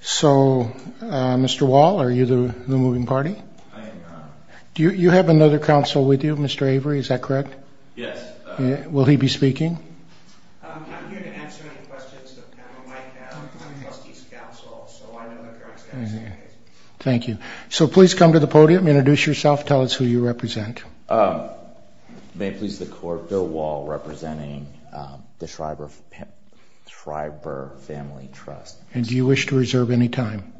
So, Mr. Wall, are you the moving party? I am, Your Honor. Do you have another counsel with you, Mr. Avery, is that correct? Yes. Will he be speaking? I'm here to answer any questions the panel might have. I'm the trustee's counsel, so I know the current status of the case. Thank you. So please come to the podium, introduce yourself, tell us who you represent. May it please the Court, Bill Wall, representing the Shriver Family Trust. And do you wish to reserve any time?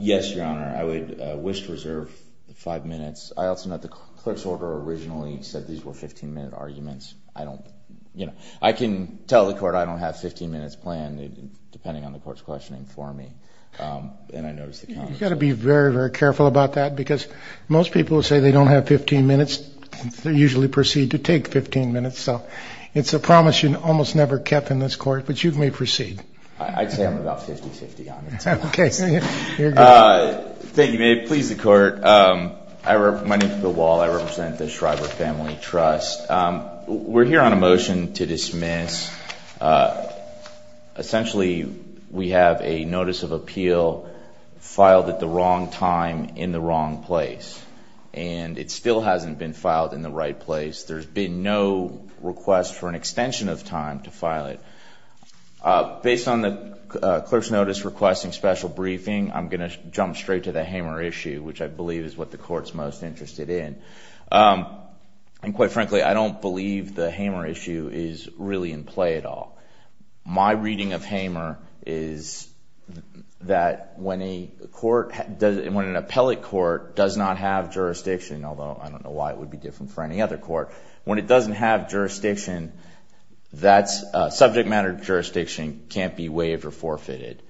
Yes, Your Honor. I would wish to reserve five minutes. I also note the clerk's order originally said these were 15-minute arguments. I don't, you know, I can tell the Court I don't have 15 minutes planned, depending on the Court's questioning for me, and I notice the counsel. You've got to be very, very careful about that, because most people who say they don't have 15 minutes usually proceed to take 15 minutes. So it's a promise you almost never kept in this Court, but you may proceed. I'd say I'm about 50-50 on it. Okay. Thank you. May it please the Court. My name is Bill Wall. I represent the Shriver Family Trust. We're here on a motion to dismiss. Essentially, we have a notice of appeal filed at the wrong time in the wrong place, and it still hasn't been filed in the right place. There's been no request for an extension of time to file it. Based on the clerk's notice requesting special briefing, I'm going to jump straight to the Hamer issue, which I believe is what the Court's most interested in. And quite frankly, I don't believe the Hamer issue is really in play at all. My reading of Hamer is that when a court, when an appellate court does not have jurisdiction, although I don't know why it would be different for any other court, when it doesn't have jurisdiction, subject matter jurisdiction can't be waived or forfeited.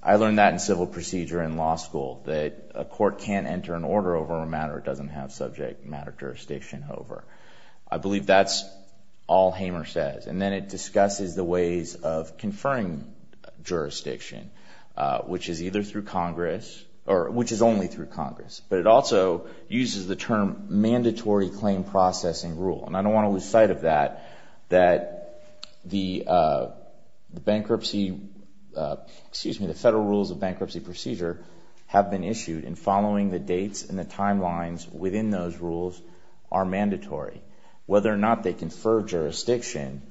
I learned that in civil procedure in law school, that a court can't enter an order over a matter it doesn't have subject matter jurisdiction over. I believe that's all Hamer says. And then it discusses the ways of conferring jurisdiction, which is either through Congress, or which is only through Congress. But it also uses the term mandatory claim processing rule. And I don't want to lose sight of that, that the federal rules of bankruptcy procedure have been issued, and following the dates and the timelines within those rules are mandatory. Whether or not they confer jurisdiction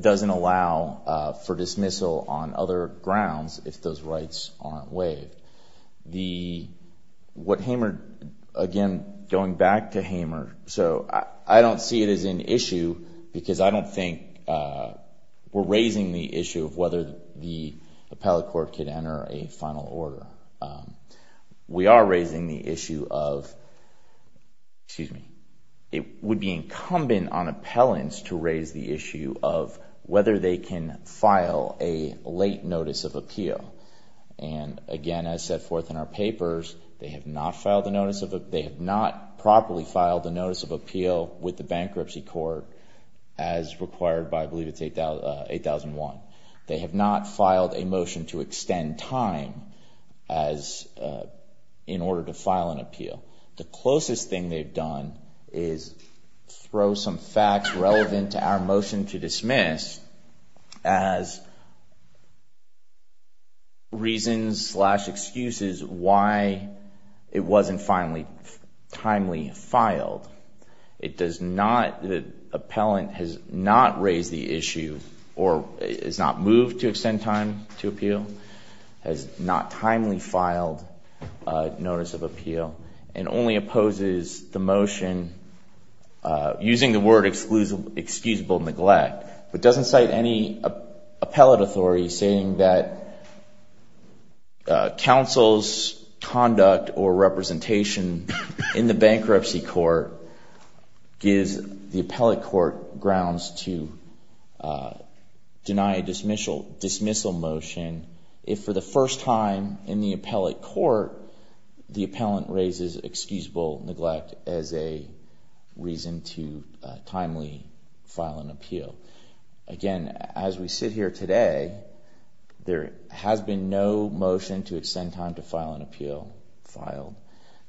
doesn't allow for dismissal on other grounds, if those rights aren't waived. What Hamer, again, going back to Hamer, so I don't see it as an issue, because I don't think we're raising the issue of whether the appellate court can enter a final order. We are raising the issue of, it would be incumbent on appellants to raise the issue of whether they can file a late notice of appeal. And, again, as set forth in our papers, they have not properly filed a notice of appeal with the bankruptcy court, as required by, I believe it's 8001. They have not filed a motion to extend time in order to file an appeal. The closest thing they've done is throw some facts relevant to our motion to dismiss as reasons slash excuses why it wasn't timely filed. It does not, the appellant has not raised the issue, or has not moved to extend time to appeal, has not timely filed a notice of appeal, and only opposes the motion using the word excusable neglect. It doesn't cite any appellate authority saying that counsel's conduct or representation in the bankruptcy court gives the appellate court grounds to deny a dismissal motion if, for the first time in the appellate court, the appellant raises excusable neglect as a reason to timely file an appeal. Again, as we sit here today, there has been no motion to extend time to file an appeal filed.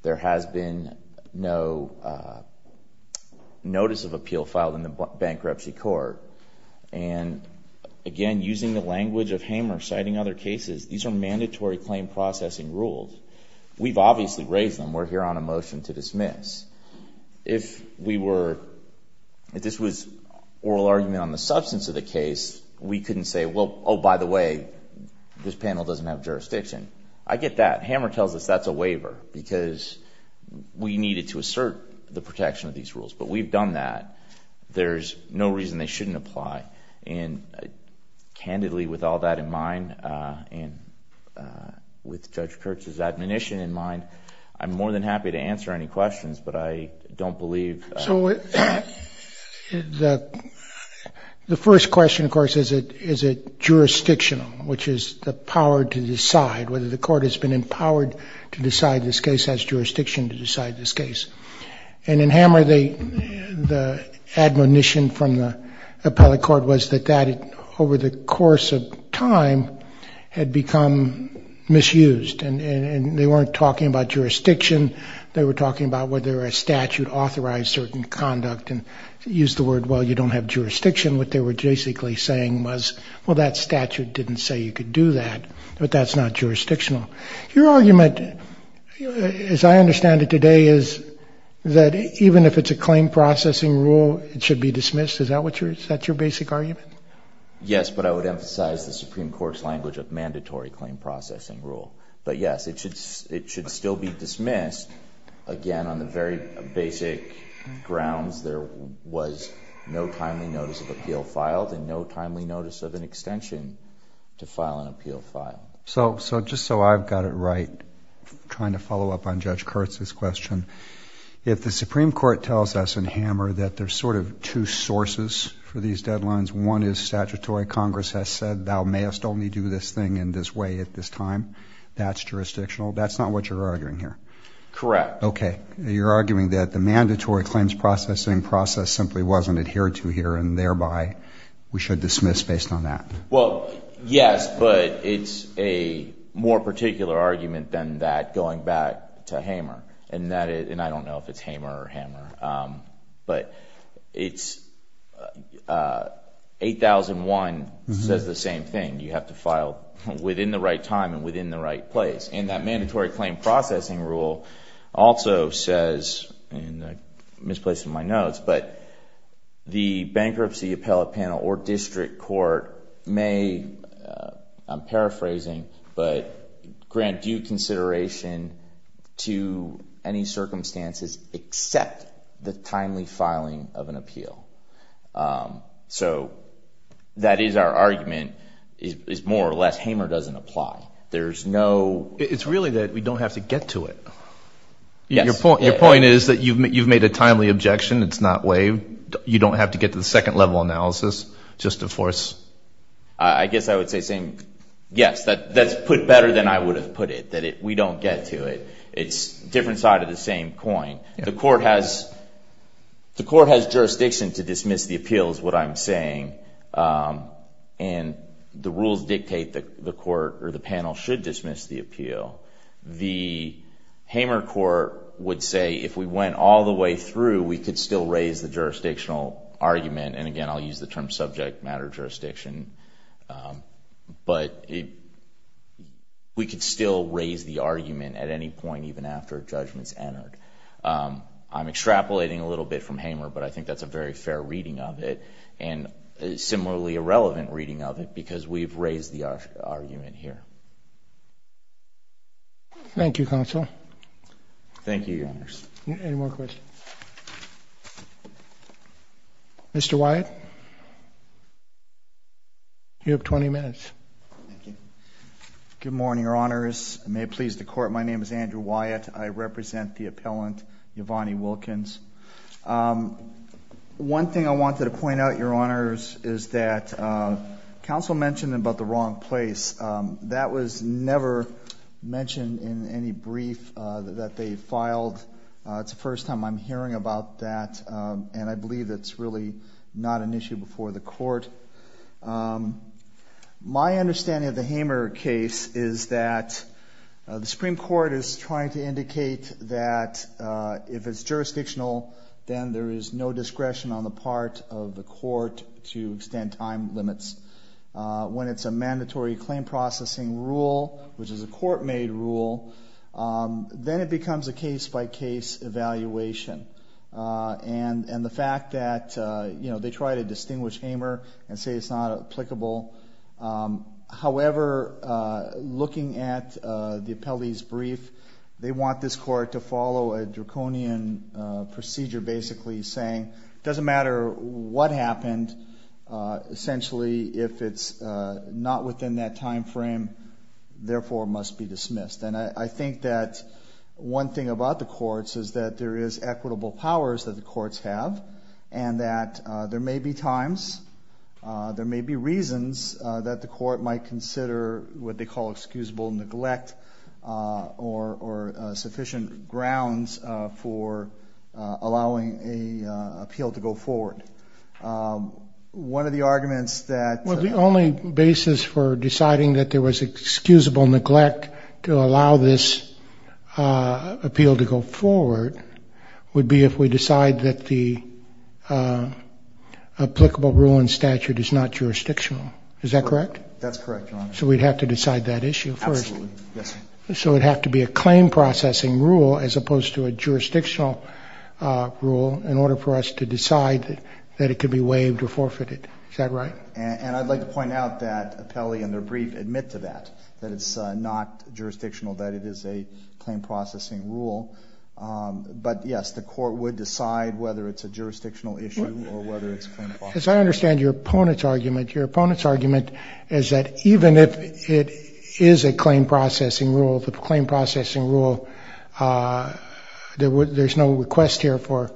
There has been no notice of appeal filed in the bankruptcy court. And, again, using the language of Hamer citing other cases, these are mandatory claim processing rules. We've obviously raised them. We're here on a motion to dismiss. If we were, if this was oral argument on the substance of the case, we couldn't say, well, oh, by the way, this panel doesn't have jurisdiction. I get that. Hamer tells us that's a waiver because we needed to assert the protection of these rules. But we've done that. There's no reason they shouldn't apply. And, candidly, with all that in mind and with Judge Kurtz's admonition in mind, I'm more than happy to answer any questions, but I don't believe. So the first question, of course, is it jurisdictional, which is the power to decide whether the court has been empowered to decide this case, has jurisdiction to decide this case. And in Hamer, the admonition from the appellate court was that that, over the course of time, had become misused. And they weren't talking about jurisdiction. They were talking about whether a statute authorized certain conduct and used the word, well, you don't have jurisdiction. What they were basically saying was, well, that statute didn't say you could do that, but that's not jurisdictional. Your argument, as I understand it today, is that even if it's a claim processing rule, it should be dismissed. Is that your basic argument? Yes, but I would emphasize the Supreme Court's language of mandatory claim processing rule. But, yes, it should still be dismissed. Again, on the very basic grounds there was no timely notice of appeal filed and no timely notice of an extension to file an appeal file. So just so I've got it right, trying to follow up on Judge Kurtz's question, if the Supreme Court tells us in Hamer that there's sort of two sources for these deadlines, one is statutory Congress has said thou mayest only do this thing in this way at this time, that's jurisdictional, that's not what you're arguing here? Correct. Okay. You're arguing that the mandatory claims processing process simply wasn't adhered to here and thereby we should dismiss based on that. Well, yes, but it's a more particular argument than that going back to Hamer. And I don't know if it's Hamer or Hammer. But 8001 says the same thing. You have to file within the right time and within the right place. And that mandatory claim processing rule also says, and I misplaced my notes, but the bankruptcy appellate panel or district court may, I'm paraphrasing, but grant due consideration to any circumstances except the timely filing of an appeal. So that is our argument, is more or less Hamer doesn't apply. It's really that we don't have to get to it. Your point is that you've made a timely objection. It's not waived. You don't have to get to the second level analysis just to force. I guess I would say same. Yes, that's put better than I would have put it, that we don't get to it. It's a different side of the same coin. The court has jurisdiction to dismiss the appeals, what I'm saying. And the rules dictate that the court or the panel should dismiss the appeal. The Hamer court would say if we went all the way through, we could still raise the jurisdictional argument. And, again, I'll use the term subject matter jurisdiction. But we could still raise the argument at any point even after a judgment is entered. I'm extrapolating a little bit from Hamer, but I think that's a very fair reading of it and similarly a relevant reading of it because we've raised the argument here. Thank you, counsel. Thank you, Your Honors. Any more questions? Mr. Wyatt? You have 20 minutes. Good morning, Your Honors. May it please the Court, my name is Andrew Wyatt. I represent the appellant, Yvonne Wilkins. One thing I wanted to point out, Your Honors, is that counsel mentioned about the wrong place. That was never mentioned in any brief that they filed. It's the first time I'm hearing about that, and I believe that's really not an issue before the court. My understanding of the Hamer case is that the Supreme Court is trying to indicate that if it's jurisdictional, then there is no discretion on the part of the court to extend time limits. When it's a mandatory claim processing rule, which is a court-made rule, then it becomes a case-by-case evaluation. And the fact that they try to distinguish Hamer and say it's not applicable, however, looking at the appellee's brief, they want this court to follow a draconian procedure, basically saying it doesn't matter what happened. Essentially, if it's not within that time frame, therefore, it must be dismissed. And I think that one thing about the courts is that there is equitable powers that the courts have, and that there may be times, there may be reasons that the court might consider what they call excusable neglect or sufficient grounds for allowing an appeal to go forward. One of the arguments that... Well, the only basis for deciding that there was excusable neglect to allow this appeal to go forward would be if we decide that the applicable rule in statute is not jurisdictional. Is that correct? That's correct, Your Honor. So we'd have to decide that issue first. Absolutely, yes. So it would have to be a claim processing rule as opposed to a jurisdictional rule in order for us to decide that it could be waived or forfeited. Is that right? And I'd like to point out that appellee and their brief admit to that, that it's not jurisdictional, that it is a claim processing rule. But, yes, the court would decide whether it's a jurisdictional issue or whether it's a claim processing rule. As I understand your opponent's argument, your opponent's argument is that even if it is a claim processing rule, the claim processing rule, there's no request here for...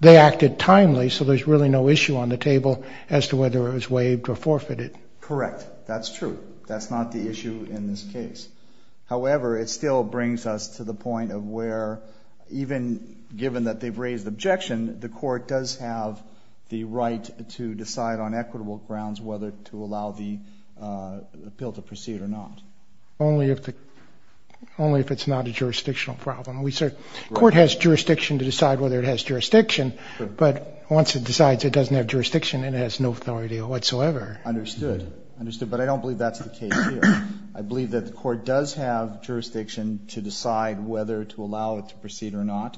They acted timely, so there's really no issue on the table as to whether it was waived or forfeited. Correct. That's true. That's not the issue in this case. However, it still brings us to the point of where even given that they've raised objection, the court does have the right to decide on equitable grounds whether to allow the appeal to proceed or not. Only if it's not a jurisdictional problem. The court has jurisdiction to decide whether it has jurisdiction, but once it decides it doesn't have jurisdiction, it has no authority whatsoever. Understood. Understood. But I don't believe that's the case here. I believe that the court does have jurisdiction to decide whether to allow it to proceed or not,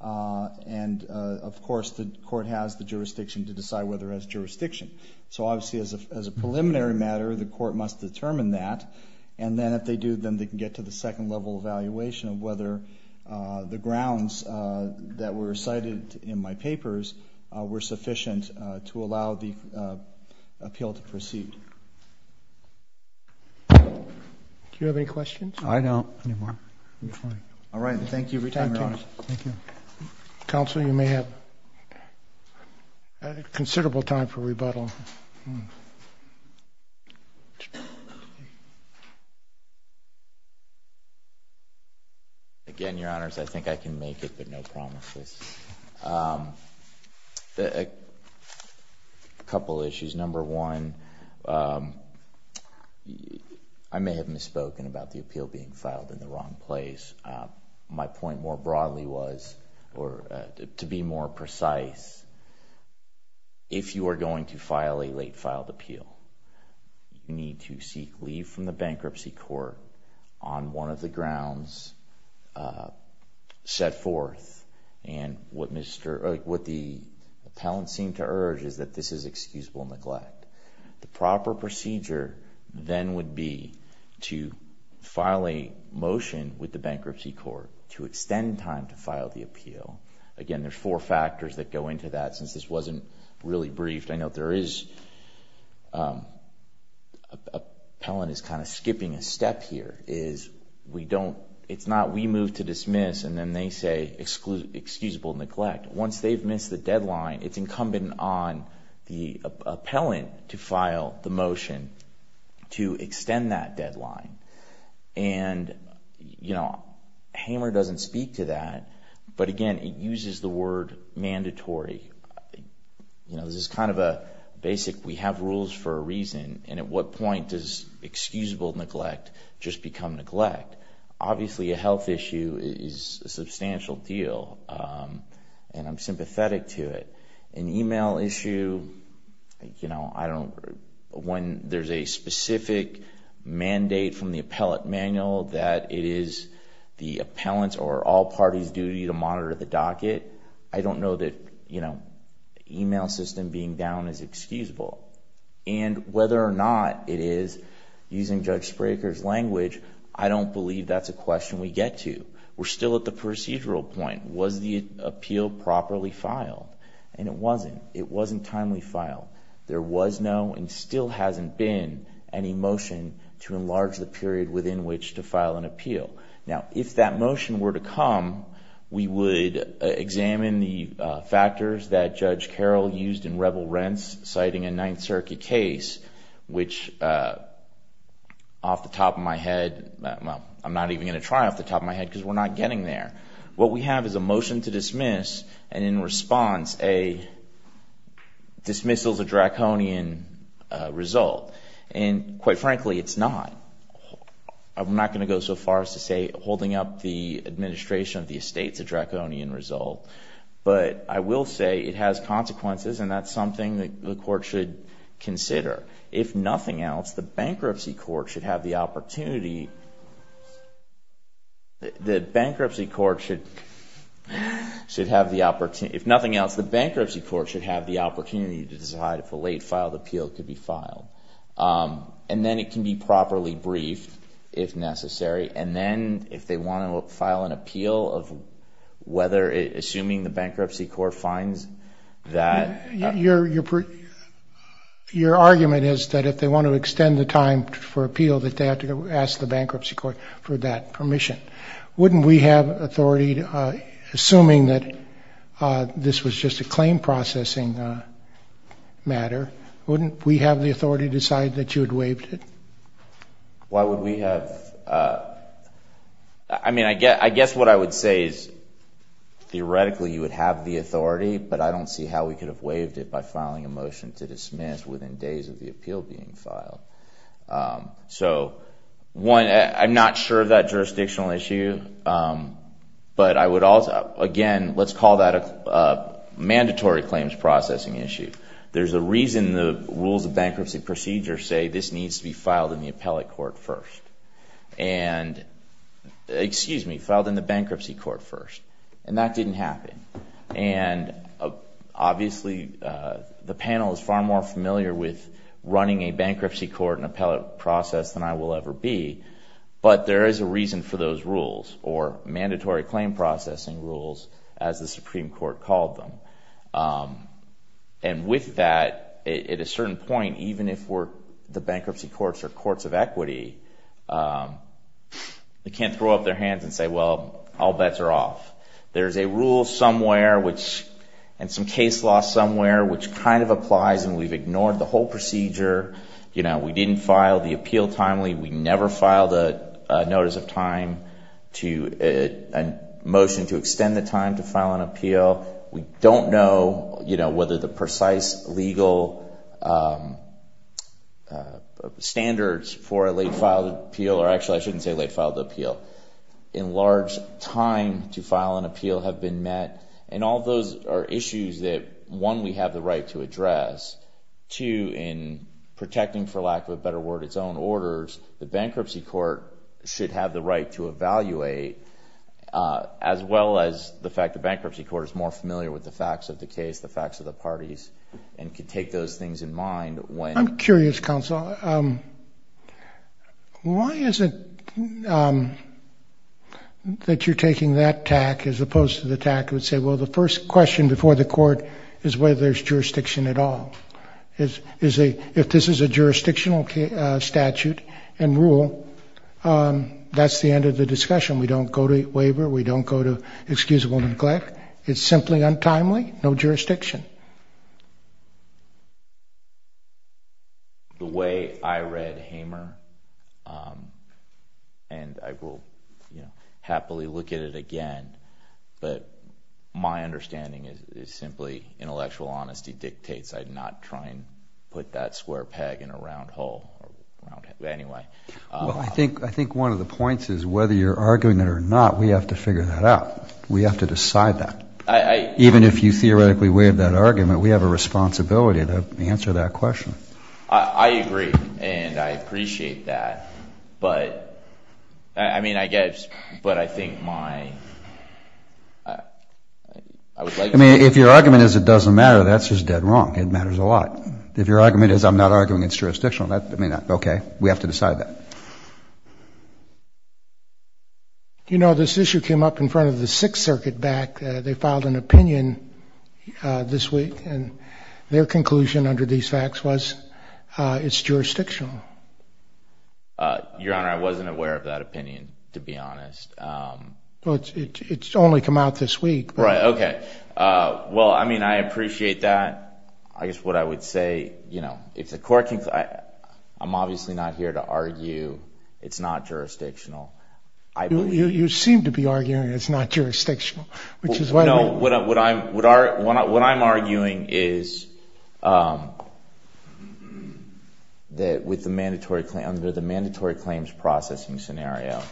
and, of course, the court has the jurisdiction to decide whether it has jurisdiction. So, obviously, as a preliminary matter, the court must determine that, and then if they do, then they can get to the second level evaluation of whether the grounds that were cited in my papers were sufficient to allow the appeal to proceed. Do you have any questions? I don't. All right. Thank you for your time, Your Honor. Thank you. Counsel, you may have considerable time for rebuttal. Again, Your Honors, I think I can make it, but no promises. A couple issues. Number one, I may have misspoken about the appeal being filed in the wrong place. My point more broadly was, or to be more precise, if you are going to file a late-filed appeal, you need to seek leave from the bankruptcy court on one of the grounds set forth, and what the appellant seemed to urge is that this is excusable neglect. The proper procedure, then, would be to file a motion with the bankruptcy court to extend time to file the appeal. Again, there are four factors that go into that. Since this wasn't really briefed, I know the appellant is kind of skipping a step here. It's not we move to dismiss, and then they say excusable neglect. Once they've missed the deadline, it's incumbent on the appellant to file the motion to extend that deadline. Hamer doesn't speak to that, but again, it uses the word mandatory. This is kind of a basic, we have rules for a reason, and at what point does excusable neglect just become neglect? Obviously, a health issue is a substantial deal, and I'm sympathetic to it. An email issue, when there's a specific mandate from the appellate manual that it is the appellant's or all parties' duty to monitor the docket, I don't know that email system being down is excusable. Whether or not it is, using Judge Spraker's language, I don't believe that's a question we get to. We're still at the procedural point. Was the appeal properly filed? It wasn't. It wasn't timely filed. There was no, and still hasn't been, any motion to enlarge the period within which to file an appeal. Now, if that motion were to come, we would examine the factors that Judge Carroll used in Rebel Rents, citing a Ninth Circuit case, which off the top of my head, well, I'm not even going to try off the top of my head, because we're not getting there. What we have is a motion to dismiss, and in response, a dismissal's a draconian result, and quite frankly, it's not. I'm not going to go so far as to say holding up the administration of the estate's a draconian result, but I will say it has consequences, and that's something the court should consider. If nothing else, the bankruptcy court should have the opportunity to decide if a late filed appeal could be filed, and then it can be properly briefed if necessary, and then if they want to file an appeal, assuming the bankruptcy court finds that. Your argument is that if they want to extend the time for appeal, that they have to ask the bankruptcy court for that permission. Wouldn't we have authority, assuming that this was just a claim processing matter, wouldn't we have the authority to decide that you had waived it? Why would we have? I mean, I guess what I would say is, theoretically, you would have the authority, but I don't see how we could have waived it by filing a motion to dismiss within days of the appeal being filed. So, one, I'm not sure of that jurisdictional issue, but I would also, again, let's call that a mandatory claims processing issue. There's a reason the rules of bankruptcy procedure say this needs to be filed in the appellate court first, and, excuse me, filed in the bankruptcy court first, and that didn't happen. And, obviously, the panel is far more familiar with running a bankruptcy court and appellate process than I will ever be, but there is a reason for those rules, or mandatory claim processing rules, as the Supreme Court called them. And with that, at a certain point, even if the bankruptcy courts are courts of equity, they can't throw up their hands and say, well, all bets are off. There's a rule somewhere, and some case law somewhere, which kind of applies, and we've ignored the whole procedure. We didn't file the appeal timely. We never filed a notice of time, a motion to extend the time to file an appeal. We don't know whether the precise legal standards for a late-filed appeal, or actually I shouldn't say late-filed appeal, in large time to file an appeal have been met. And all those are issues that, one, we have the right to address. Two, in protecting, for lack of a better word, its own orders, the bankruptcy court should have the right to evaluate, as well as the fact the bankruptcy court is more familiar with the facts of the case, the facts of the parties, and can take those things in mind when. I'm curious, counsel, why is it that you're taking that tack as opposed to the tack that would say, well, the first question before the court is whether there's jurisdiction at all? If this is a jurisdictional statute and rule, that's the end of the discussion. We don't go to waiver. We don't go to excusable neglect. It's simply untimely, no jurisdiction. The way I read Hamer, and I will happily look at it again, but my understanding is simply intellectual honesty dictates I not try and put that square peg in a round hole. Anyway. Well, I think one of the points is whether you're arguing it or not, we have to figure that out. We have to decide that. Even if you theoretically waive that argument, we have a responsibility to answer that question. I agree, and I appreciate that. But, I mean, I guess, but I think my, I would like to see. I mean, if your argument is it doesn't matter, that's just dead wrong. It matters a lot. If your argument is I'm not arguing it's jurisdictional, that may not be okay. We have to decide that. You know, this issue came up in front of the Sixth Circuit back. They filed an opinion this week, and their conclusion under these facts was it's jurisdictional. Your Honor, I wasn't aware of that opinion, to be honest. Well, it's only come out this week. Right. Okay. Well, I mean, I appreciate that. I guess what I would say, you know, it's a court case. I'm obviously not here to argue it's not jurisdictional. You seem to be arguing it's not jurisdictional. No, what I'm arguing is that with the mandatory claims processing scenario,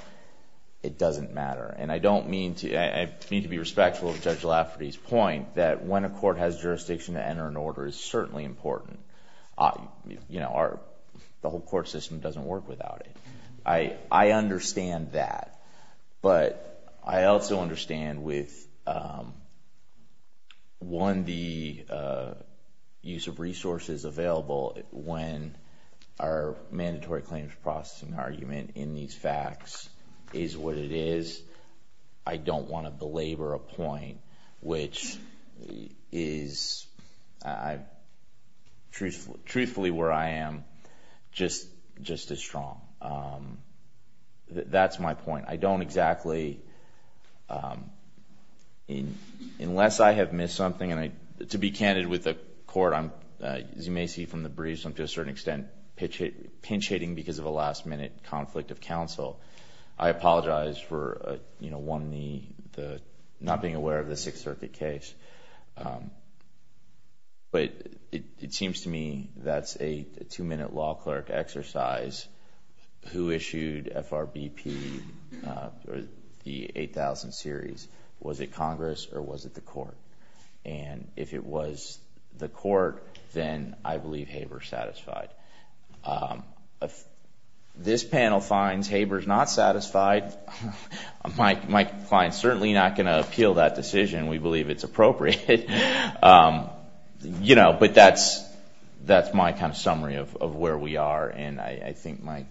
it doesn't matter. And I don't mean to... I mean to be respectful of Judge Lafferty's point that when a court has jurisdiction to enter an order, it's certainly important. You know, the whole court system doesn't work without it. I understand that. But I also understand with, one, the use of resources available when our mandatory claims processing argument in these facts is what it is. I don't want to belabor a point which is truthfully where I am just as strong. That's my point. I don't exactly... unless I have missed something. And to be candid with the court, as you may see from the briefs, I'm to a certain extent pinch-hitting because of a last-minute conflict of counsel. I apologize for not being aware of the Sixth Circuit case. But it seems to me that's a two-minute law clerk exercise. Who issued FRBP, the 8000 series? Was it Congress or was it the court? And if it was the court, then I believe Haber's satisfied. If this panel finds Haber's not satisfied, my client's certainly not going to appeal that decision. We believe it's appropriate. But that's my kind of summary of where we are. And I think my...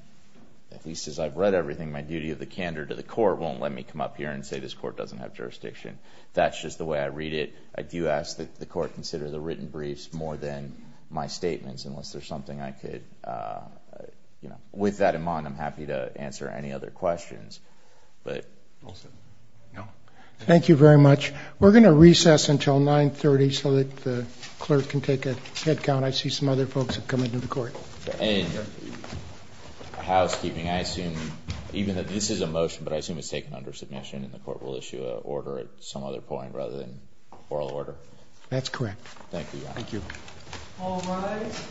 at least as I've read everything, my duty of the candor to the court won't let me come up here and say this court doesn't have jurisdiction. That's just the way I read it. I do ask that the court consider the written briefs more than my statements unless there's something I could... With that in mind, I'm happy to answer any other questions. All set. Thank you very much. We're going to recess until 9.30 so that the clerk can take a head count. I see some other folks have come into the court. And housekeeping, I assume, even though this is a motion, but I assume it's taken under submission and the court will issue an order at some other point rather than oral order? That's correct. Thank you, Your Honor. Thank you. All rise.